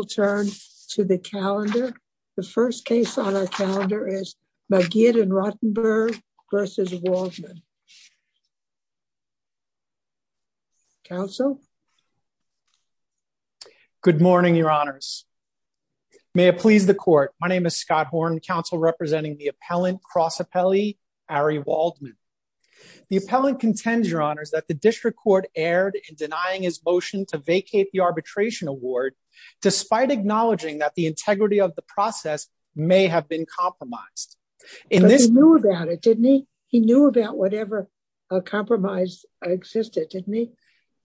We will turn to the calendar. The first case on our calendar is Magid v. Rotenberg v. Waldman. Counsel? Good morning, your honors. May it please the court. My name is Scott Horn, counsel representing the appellant, cross appellee Ari Waldman. The appellant contends, your honors, that the district court erred in denying his motion to vacate the arbitration award, despite acknowledging that the integrity of the process may have been compromised. He knew about it, didn't he? He knew about whatever compromise existed, didn't he?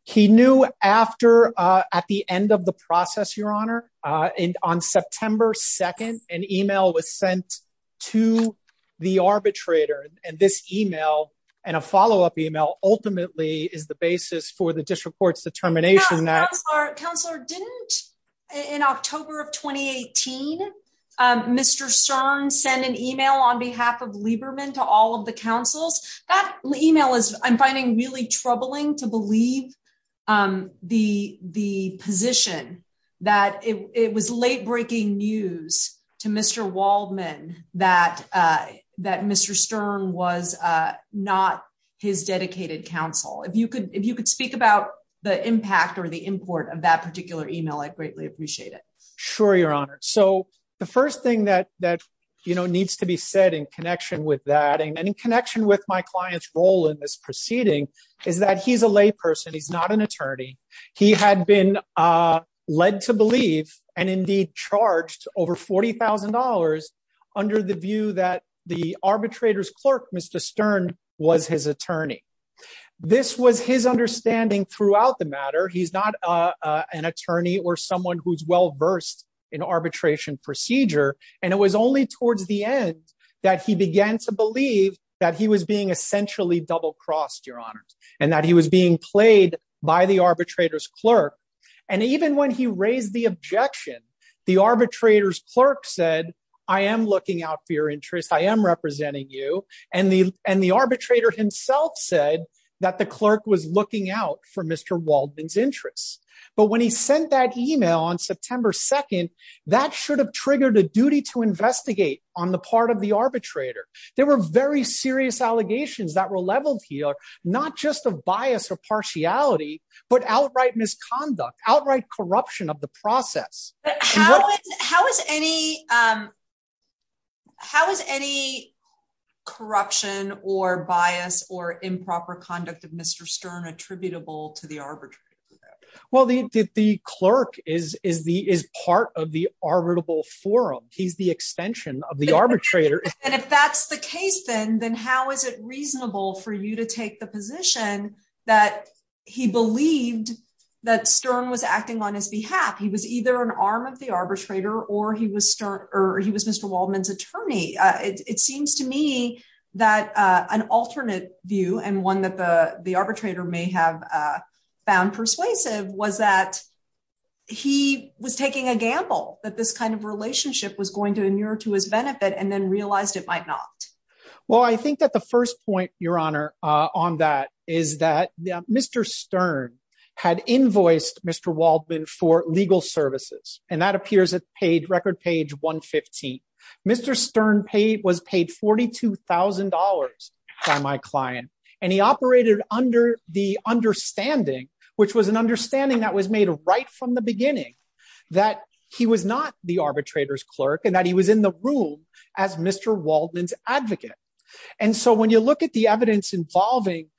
He knew after, at the end of the process, your honor, on September 2nd, an email was sent to the arbitrator. And this email, and a follow-up email, ultimately is the basis for the district court's determination that- the position that it was late-breaking news to Mr. Waldman that Mr. Stern was not his dedicated counsel. If you could speak about the impact or the import of that particular email, I'd greatly appreciate it. Sure, your honor. So, the first thing that needs to be said in connection with that, and in connection with my client's role in this proceeding, is that he's a layperson, he's not an attorney. He had been led to believe, and indeed charged over $40,000, under the view that the arbitrator's clerk, Mr. Stern, was his attorney. This was his understanding throughout the matter. He's not an attorney or someone who's well-versed in arbitration procedure. And it was only towards the end that he began to believe that he was being essentially double-crossed, your honor, and that he was being played by the arbitrator's clerk. And even when he raised the objection, the arbitrator's clerk said, I am looking out for your interest, I am representing you. And the arbitrator himself said that the clerk was looking out for Mr. Waldman's interests. But when he sent that email on September 2nd, that should have triggered a duty to investigate on the part of the arbitrator. There were very serious allegations that were leveled here, not just of bias or partiality, but outright misconduct, outright corruption of the process. How is any corruption or bias or improper conduct of Mr. Stern attributable to the arbitrator? Well, the clerk is part of the arbitrable forum. He's the extension of the arbitrator. And if that's the case, then how is it reasonable for you to take the position that he believed that Stern was acting on his behalf? He was either an arm of the arbitrator or he was Mr. Waldman's attorney. It seems to me that an alternate view and one that the arbitrator may have found persuasive was that he was taking a gamble, that this kind of relationship was going to inure to his benefit and then realized it might not. Well, I think that the first point, Your Honor, on that is that Mr. Stern had invoiced Mr. Waldman for legal services, and that appears at page record page 115. Mr. Stern was paid $42,000 by my client, and he operated under the understanding, which was an understanding that was made right from the beginning, that he was not the arbitrator's clerk and that he was in the room as Mr. Waldman's advocate. And so when you look at the evidence involving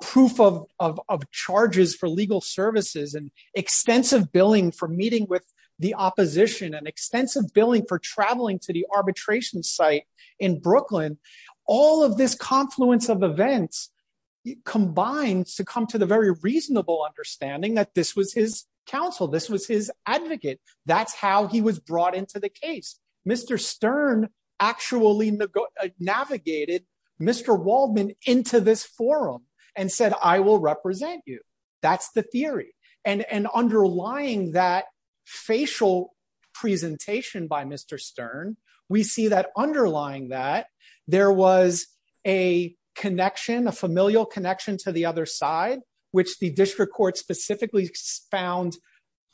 proof of charges for legal services and extensive billing for meeting with the opposition and extensive billing for traveling to the arbitration site in Brooklyn, all of this confluence of events combines to come to the very reasonable understanding that this was his counsel. This was his advocate. That's how he was brought into the case. Mr. Stern actually navigated Mr. Waldman into this forum and said, I will represent you. That's the theory. And underlying that facial presentation by Mr. Stern, we see that underlying that there was a connection, a familial connection to the other side, which the district court specifically found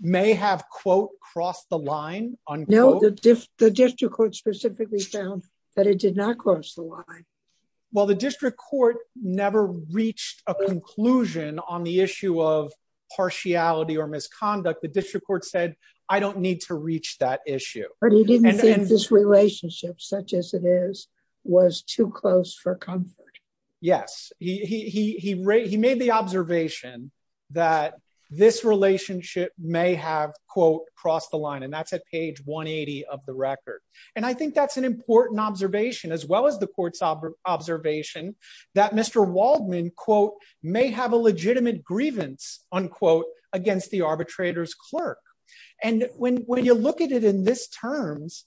may have, quote, crossed the line. No, the district court specifically found that it did not cross the line. Well, the district court never reached a conclusion on the issue of partiality or misconduct. The district court said, I don't need to reach that issue. But he didn't think this relationship, such as it is, was too close for comfort. Yes. He made the observation that this relationship may have, quote, crossed the line. And that's at page 180 of the record. And I think that's an important observation, as well as the court's observation that Mr. Waldman, quote, may have a legitimate grievance, unquote, against the arbitrator's clerk. And when you look at it in this terms,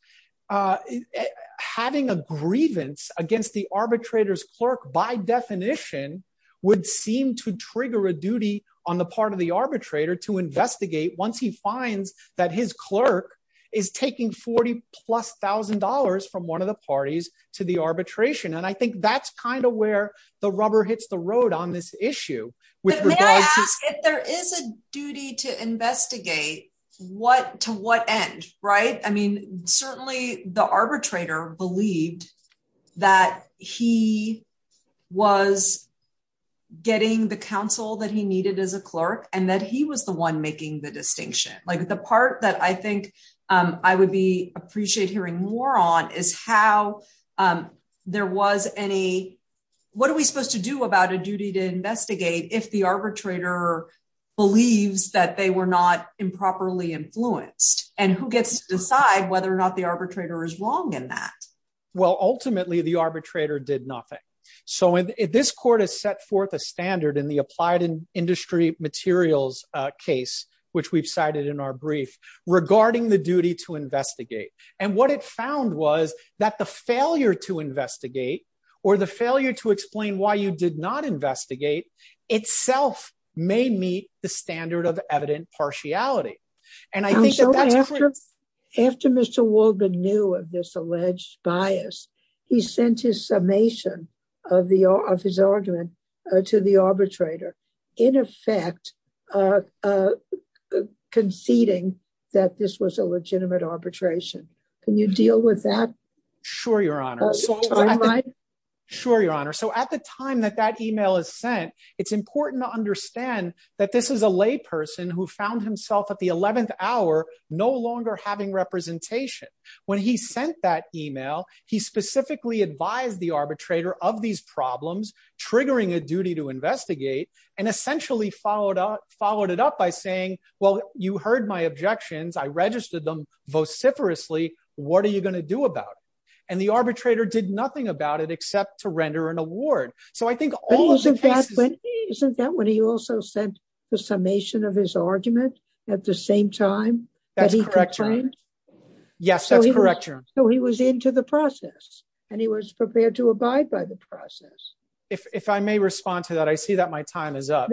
having a grievance against the arbitrator's clerk, by definition, would seem to trigger a duty on the part of the arbitrator to investigate once he finds that his clerk is taking 40 plus thousand dollars from one of the parties to the arbitration. And I think that's kind of where the rubber hits the road on this issue. May I ask, if there is a duty to investigate, to what end, right? I mean, certainly the arbitrator believed that he was getting the counsel that he needed as a clerk and that he was the one making the distinction. Like, the part that I think I would appreciate hearing more on is how there was any, what are we supposed to do about a duty to investigate if the arbitrator believes that they were not improperly influenced? And who gets to decide whether or not the arbitrator is wrong in that? Well, ultimately, the arbitrator did nothing. So this court has set forth a standard in the applied industry materials case, which we've cited in our brief, regarding the duty to investigate. And what it found was that the failure to investigate or the failure to explain why you did not investigate itself may meet the standard of evident partiality. After Mr. Walden knew of this alleged bias, he sent his summation of his argument to the arbitrator, in effect, conceding that this was a legitimate arbitration. Can you deal with that? Sure, Your Honor. Sure, Your Honor. So at the time that that email is sent, it's important to understand that this is a layperson who found himself at the 11th hour no longer having representation. When he sent that email, he specifically advised the arbitrator of these problems, triggering a duty to investigate, and essentially followed it up by saying, well, you heard my objections. I registered them vociferously. What are you going to do about it? And the arbitrator did nothing about it except to render an award. So I think all of the cases... Isn't that when he also sent the summation of his argument at the same time? That's correct, Your Honor. Yes, that's correct, Your Honor. So he was into the process and he was prepared to abide by the process. If I may respond to that, I see that my time is up.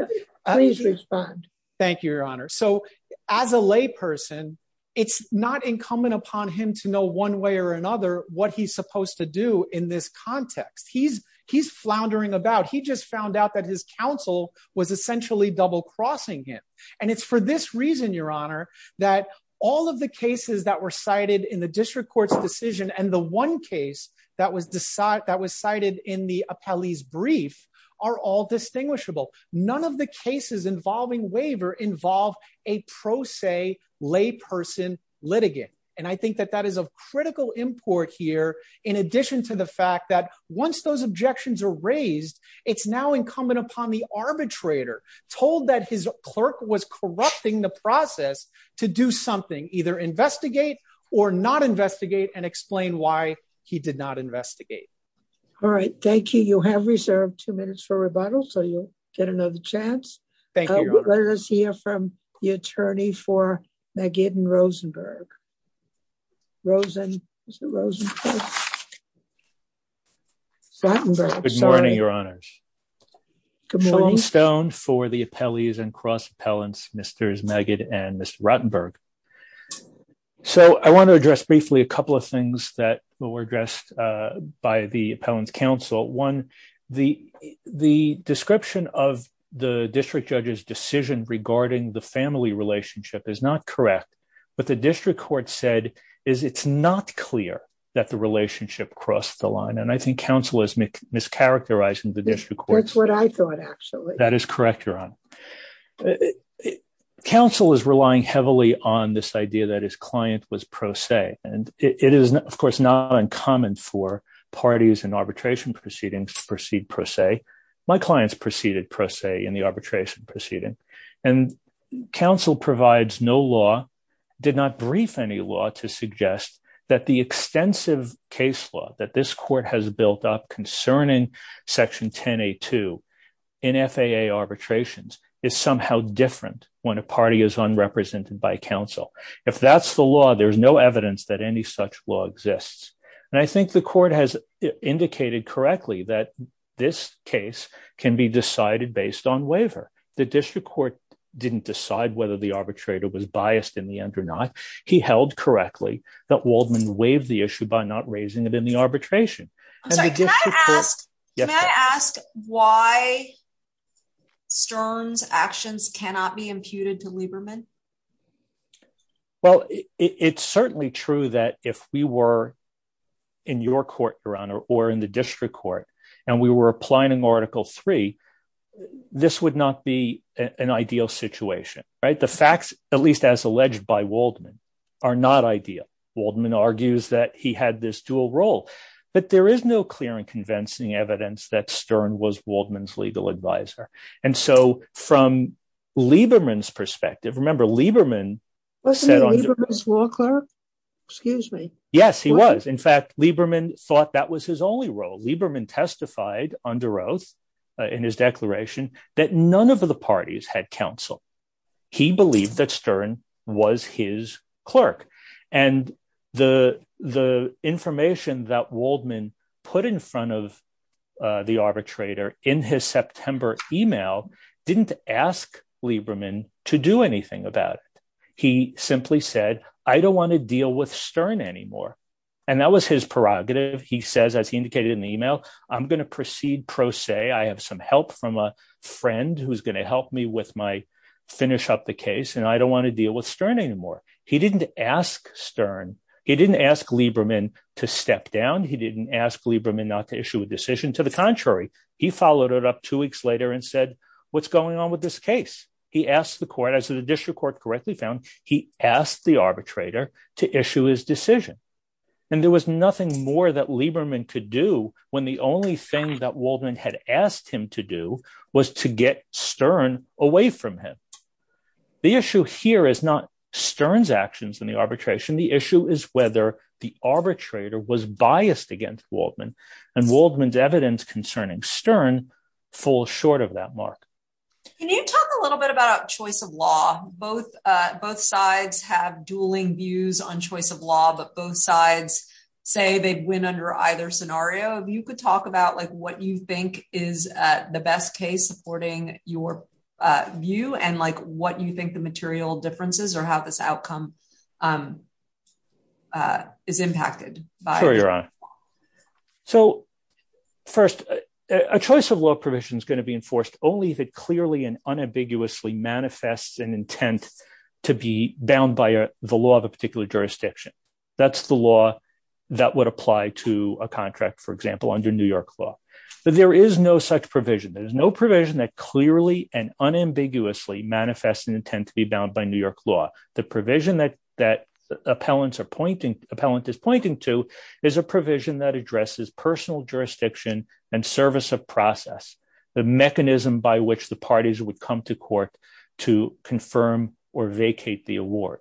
Please respond. Thank you, Your Honor. So as a layperson, it's not incumbent upon him to know one way or another what he's supposed to do in this context. He's floundering about. He just found out that his counsel was essentially double-crossing him. And it's for this reason, Your Honor, that all of the cases that were cited in the district court's decision and the one case that was cited in the appellee's brief are all distinguishable. None of the cases involving waiver involve a pro se layperson litigant. And I think that that is of critical import here in addition to the fact that once those objections are raised, it's now incumbent upon the arbitrator told that his clerk was corrupting the process to do something, either investigate or not investigate and explain why he did not investigate. All right. Thank you. You have reserved two minutes for rebuttal, so you'll get another chance. Thank you. Let us hear from the attorney for Magid and Rosenberg. Good morning, Your Honors. Shortening Stone for the appellees and cross appellants, Mr. Magid and Mr. Rotenberg. So I want to address briefly a couple of things that were addressed by the appellant's counsel. One, the description of the district judge's decision regarding the family relationship is not correct. What the district court said is it's not clear that the relationship crossed the line. And I think counsel is mischaracterizing the district court. That's what I thought, actually. That is correct, Your Honor. Counsel is relying heavily on this idea that his client was pro se. And it is, of course, not uncommon for parties and arbitration proceedings to proceed pro se. My clients proceeded pro se in the arbitration proceeding. And counsel provides no law, did not brief any law to suggest that the extensive case law that this court has built up concerning Section 10A2 in FAA arbitrations is somehow different when a party is unrepresented by counsel. If that's the law, there's no evidence that any such law exists. And I think the court has indicated correctly that this case can be decided based on waiver. The district court didn't decide whether the arbitrator was biased in the end or not. He held correctly that Waldman waived the issue by not raising it in the arbitration. Can I ask why Stern's actions cannot be imputed to Lieberman? Well, it's certainly true that if we were in your court, Your Honor, or in the district court, and we were applying Article 3, this would not be an ideal situation, right? The facts, at least as alleged by Waldman, are not ideal. Waldman argues that he had this dual role. But there is no clear and convincing evidence that Stern was Waldman's legal advisor. And so from Lieberman's perspective, remember, Lieberman set on… Wasn't he Lieberman's law clerk? Excuse me. Yes, he was. In fact, Lieberman thought that was his only role. Lieberman testified under oath in his declaration that none of the parties had counsel. He believed that Stern was his clerk. And the information that Waldman put in front of the arbitrator in his September email didn't ask Lieberman to do anything about it. He simply said, I don't want to deal with Stern anymore. And that was his prerogative. He says, as he indicated in the email, I'm going to proceed pro se. I have some help from a friend who's going to help me with my finish up the case. And I don't want to deal with Stern anymore. He didn't ask Stern. He didn't ask Lieberman to step down. He didn't ask Lieberman not to issue a decision. To the contrary, he followed it up two weeks later and said, what's going on with this case? He asked the court, as the district court correctly found, he asked the arbitrator to issue his decision. And there was nothing more that Lieberman could do when the only thing that Waldman had asked him to do was to get Stern away from him. The issue here is not Stern's actions in the arbitration. The issue is whether the arbitrator was biased against Waldman. And Waldman's evidence concerning Stern falls short of that mark. Can you talk a little bit about choice of law? Both sides have dueling views on choice of law, but both sides say they'd win under either scenario. If you could talk about what you think is the best case supporting your view and what you think the material differences are, how this outcome is impacted. Sure, Your Honor. So, first, a choice of law provision is going to be enforced only if it clearly and unambiguously manifests an intent to be bound by the law of a particular jurisdiction. That's the law that would apply to a contract, for example, under New York law. There is no such provision. There is no provision that clearly and unambiguously manifests an intent to be bound by New York law. The provision that the appellant is pointing to is a provision that addresses personal jurisdiction and service of process. The mechanism by which the parties would come to court to confirm or vacate the award.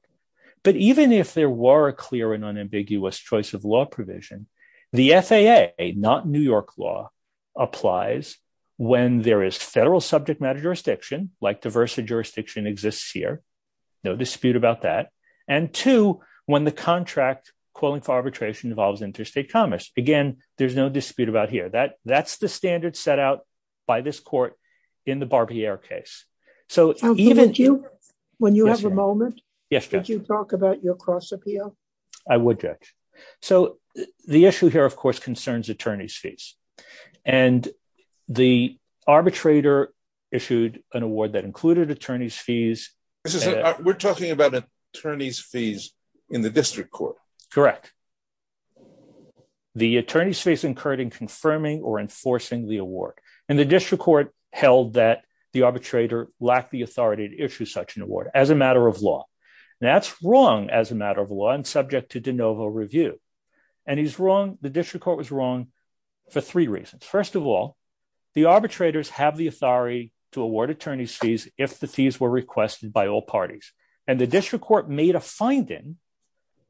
But even if there were a clear and unambiguous choice of law provision, the FAA, not New York law, applies when there is federal subject matter jurisdiction, like diversity jurisdiction exists here. No dispute about that. And two, when the contract calling for arbitration involves interstate commerce. Again, there's no dispute about here. That's the standard set out by this court in the Barbier case. When you have a moment, could you talk about your cross appeal? I would, Judge. So the issue here, of course, concerns attorney's fees. And the arbitrator issued an award that included attorney's fees. We're talking about attorney's fees in the district court. Correct. The attorney's fees incurred in confirming or enforcing the award. And the district court held that the arbitrator lacked the authority to issue such an award as a matter of law. That's wrong as a matter of law and subject to de novo review. And he's wrong. The district court was wrong for three reasons. First of all, the arbitrators have the authority to award attorney's fees if the fees were requested by all parties. And the district court made a finding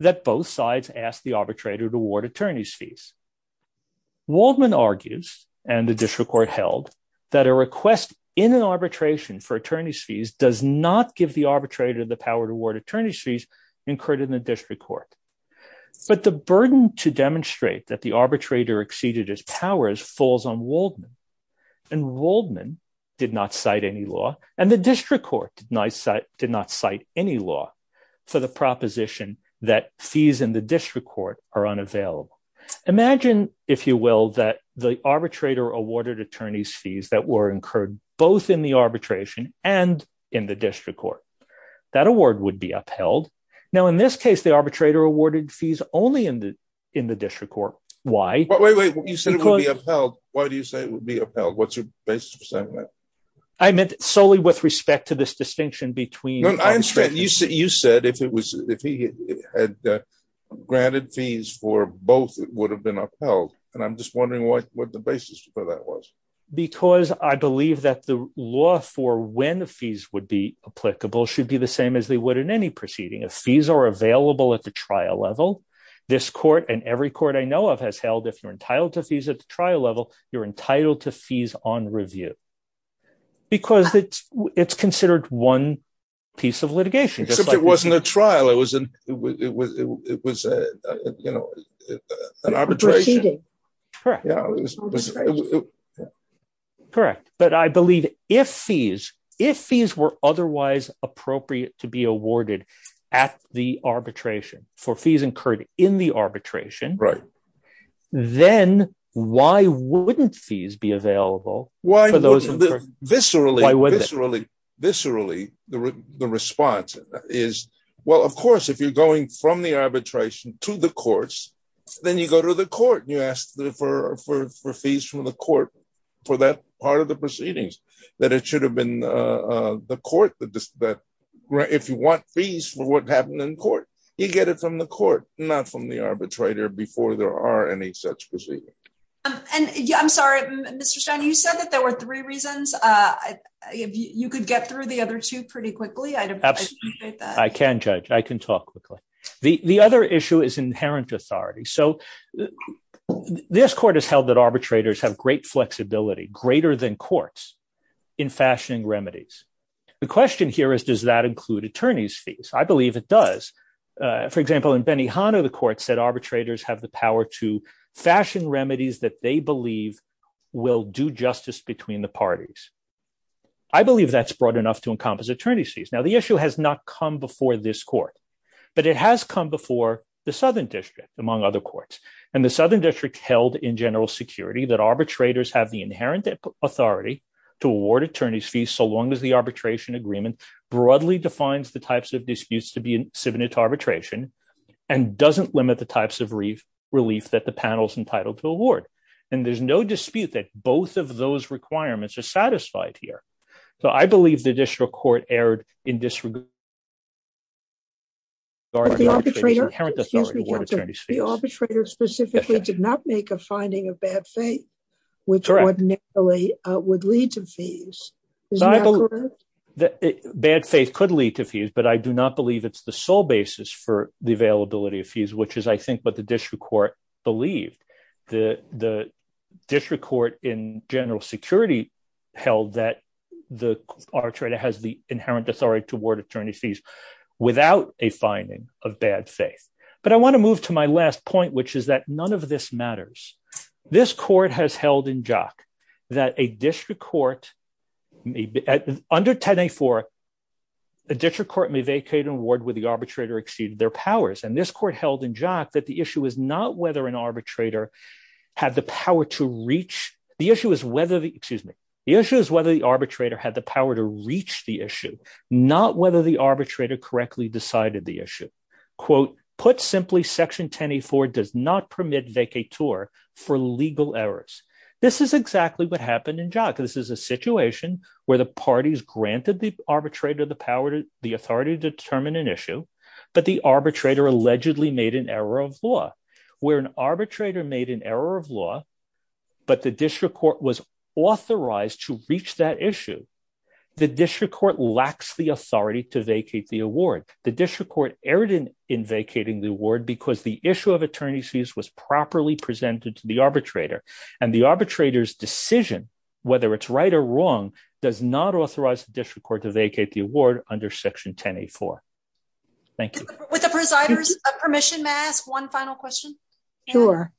that both sides asked the arbitrator to award attorney's fees. Waldman argues, and the district court held, that a request in an arbitration for attorney's fees does not give the arbitrator the power to award attorney's fees incurred in the district court. But the burden to demonstrate that the arbitrator exceeded his powers falls on Waldman. And Waldman did not cite any law. And the district court did not cite any law for the proposition that fees in the district court are unavailable. Imagine, if you will, that the arbitrator awarded attorney's fees that were incurred both in the arbitration and in the district court. That award would be upheld. Now, in this case, the arbitrator awarded fees only in the district court. Why? Wait, wait, you said it would be upheld. Why do you say it would be upheld? What's your basis for saying that? I meant solely with respect to this distinction between. You said if he had granted fees for both, it would have been upheld. And I'm just wondering what the basis for that was. Because I believe that the law for when the fees would be applicable should be the same as they would in any proceeding. If fees are available at the trial level, this court and every court I know of has held, if you're entitled to fees at the trial level, you're entitled to fees on review. Because it's considered one piece of litigation. Except it wasn't a trial. It was an arbitration. Proceeding. Correct. Correct. But I believe if fees, if fees were otherwise appropriate to be awarded at the arbitration for fees incurred in the arbitration. Right. Then why wouldn't fees be available? Viscerally, the response is, well, of course, if you're going from the arbitration to the courts, then you go to the court. You ask for fees from the court for that part of the proceedings, that it should have been the court that if you want fees for what happened in court, you get it from the court, not from the arbitrator before there are any such proceedings. And I'm sorry, Mr. Stein, you said that there were three reasons. If you could get through the other two pretty quickly, I'd appreciate that. I can judge, I can talk quickly. The other issue is inherent authority. So this court has held that arbitrators have great flexibility, greater than courts in fashioning remedies. The question here is, does that include attorney's fees? I believe it does. For example, in Benihana, the court said arbitrators have the power to fashion remedies that they believe will do justice between the parties. I believe that's broad enough to encompass attorney's fees. Now, the issue has not come before this court, but it has come before the Southern District, among other courts. And the Southern District held in general security that arbitrators have the inherent authority to award attorney's fees so long as the arbitration agreement broadly defines the types of disputes to be subpoenaed to arbitration and doesn't limit the types of relief that the panel's entitled to award. And there's no dispute that both of those requirements are satisfied here. So I believe the district court erred in disregard of the inherent authority to award attorney's fees. The arbitrator specifically did not make a finding of bad faith, which ordinarily would lead to fees. Bad faith could lead to fees, but I do not believe it's the sole basis for the availability of fees, which is, I think, what the district court believed. The district court in general security held that the arbitrator has the inherent authority to award attorney's fees without a finding of bad faith. But I want to move to my last point, which is that none of this matters. This court has held in jock that a district court may, under 10A4, a district court may vacate an award where the arbitrator exceeded their powers. And this court held in jock that the issue is not whether an arbitrator had the power to reach, the issue is whether the, excuse me, the issue is whether the arbitrator had the power to reach the issue, not whether the arbitrator correctly decided the issue. Quote, put simply, section 10A4 does not permit vacateur for legal errors. This is exactly what happened in jock. This is a situation where the parties granted the arbitrator the power, the authority to determine an issue, but the arbitrator allegedly made an error of law. Where an arbitrator made an error of law, but the district court was authorized to reach that issue, the district court lacks the authority to vacate the award. The district court erred in vacating the award because the issue of attorney's fees was properly presented to the arbitrator. And the arbitrator's decision, whether it's right or wrong, does not authorize the district court to vacate the award under section 10A4. Thank you. With the presider's permission, may I ask one final question? Sure.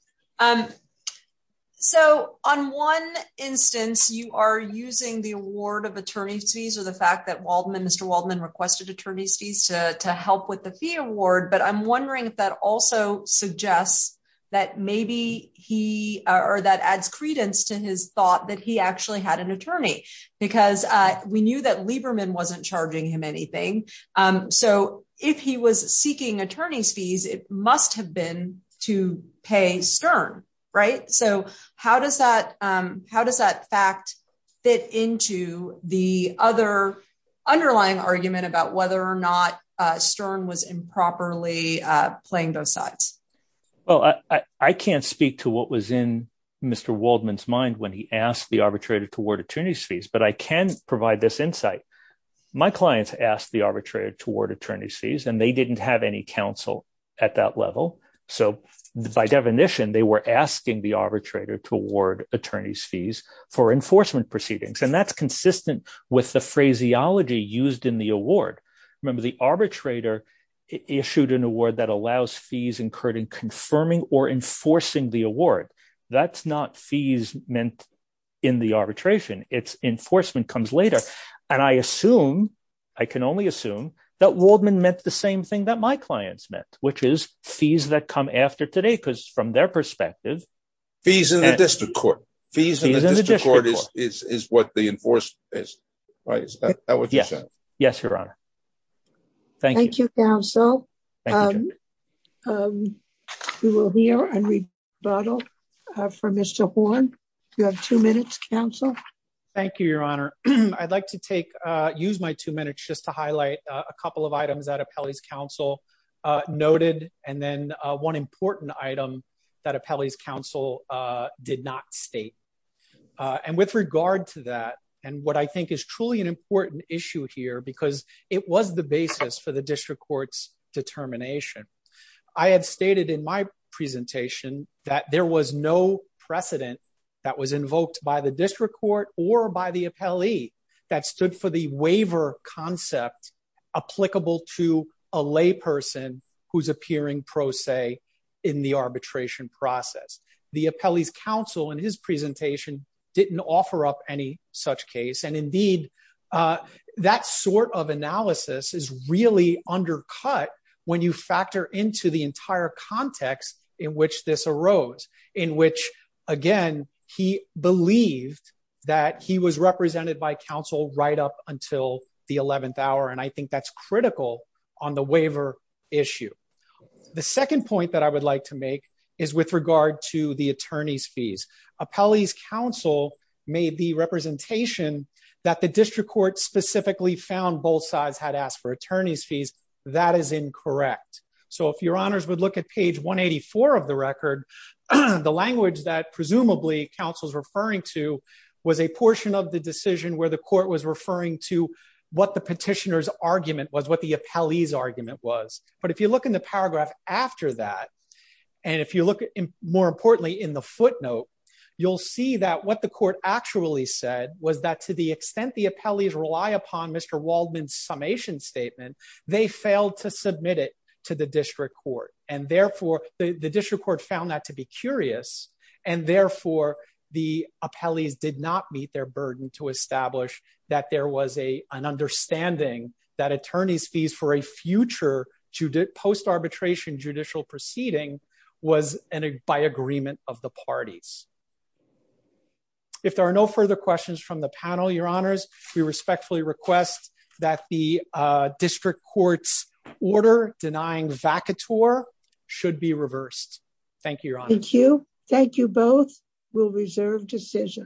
So on one instance, you are using the award of attorney's fees or the fact that Waldman, Mr. Waldman requested attorney's fees to help with the fee award. But I'm wondering if that also suggests that maybe he or that adds credence to his thought that he actually had an attorney, because we knew that Lieberman wasn't charging him anything. So if he was seeking attorney's fees, it must have been to pay Stern, right? So how does that how does that fact fit into the other underlying argument about whether or not Stern was improperly playing those sides? Well, I can't speak to what was in Mr. Waldman's mind when he asked the arbitrator to award attorney's fees, but I can provide this insight. My clients asked the arbitrator to award attorney's fees and they didn't have any counsel at that level. So by definition, they were asking the arbitrator to award attorney's fees for enforcement proceedings. And that's consistent with the phraseology used in the award. Remember, the arbitrator issued an award that allows fees incurred in confirming or enforcing the award. That's not fees meant in the arbitration. It's enforcement comes later. And I assume I can only assume that Waldman meant the same thing that my clients meant, which is fees that come after today because from their perspective. Fees in the district court. Fees in the district court is what the enforcement is. Yes. Yes, Your Honor. Thank you, counsel. We will hear a rebuttal from Mr. Horn. You have two minutes, counsel. Thank you, Your Honor. I'd like to take use my two minutes just to highlight a couple of items that Appellee's counsel noted. And then one important item that Appellee's counsel did not state. And with regard to that, and what I think is truly an important issue here because it was the basis for the district court's determination. I had stated in my presentation that there was no precedent that was invoked by the district court or by the appellee that stood for the waiver concept applicable to a lay person who's appearing pro se in the arbitration process. The appellee's counsel in his presentation didn't offer up any such case. And indeed, that sort of analysis is really undercut when you factor into the entire context in which this arose, in which, again, he believed that he was represented by counsel right up until the 11th hour. And I think that's critical on the waiver issue. The second point that I would like to make is with regard to the attorney's fees. Appellee's counsel made the representation that the district court specifically found both sides had asked for attorney's fees. That is incorrect. So if your honors would look at page 184 of the record, the language that presumably counsel's referring to was a portion of the decision where the court was referring to what the petitioner's argument was, what the appellee's argument was. But if you look in the paragraph after that, and if you look more importantly in the footnote, you'll see that what the court actually said was that to the extent the appellees rely upon Mr. Waldman's summation statement, they failed to submit it to the district court. And therefore, the district court found that to be curious, and therefore, the appellees did not meet their burden to establish that there was an understanding that attorney's fees for a future post-arbitration judicial proceeding was by agreement of the parties. If there are no further questions from the panel, your honors, we respectfully request that the district court's order denying vacatur should be reversed. Thank you. Thank you. Thank you. Both will reserve decision.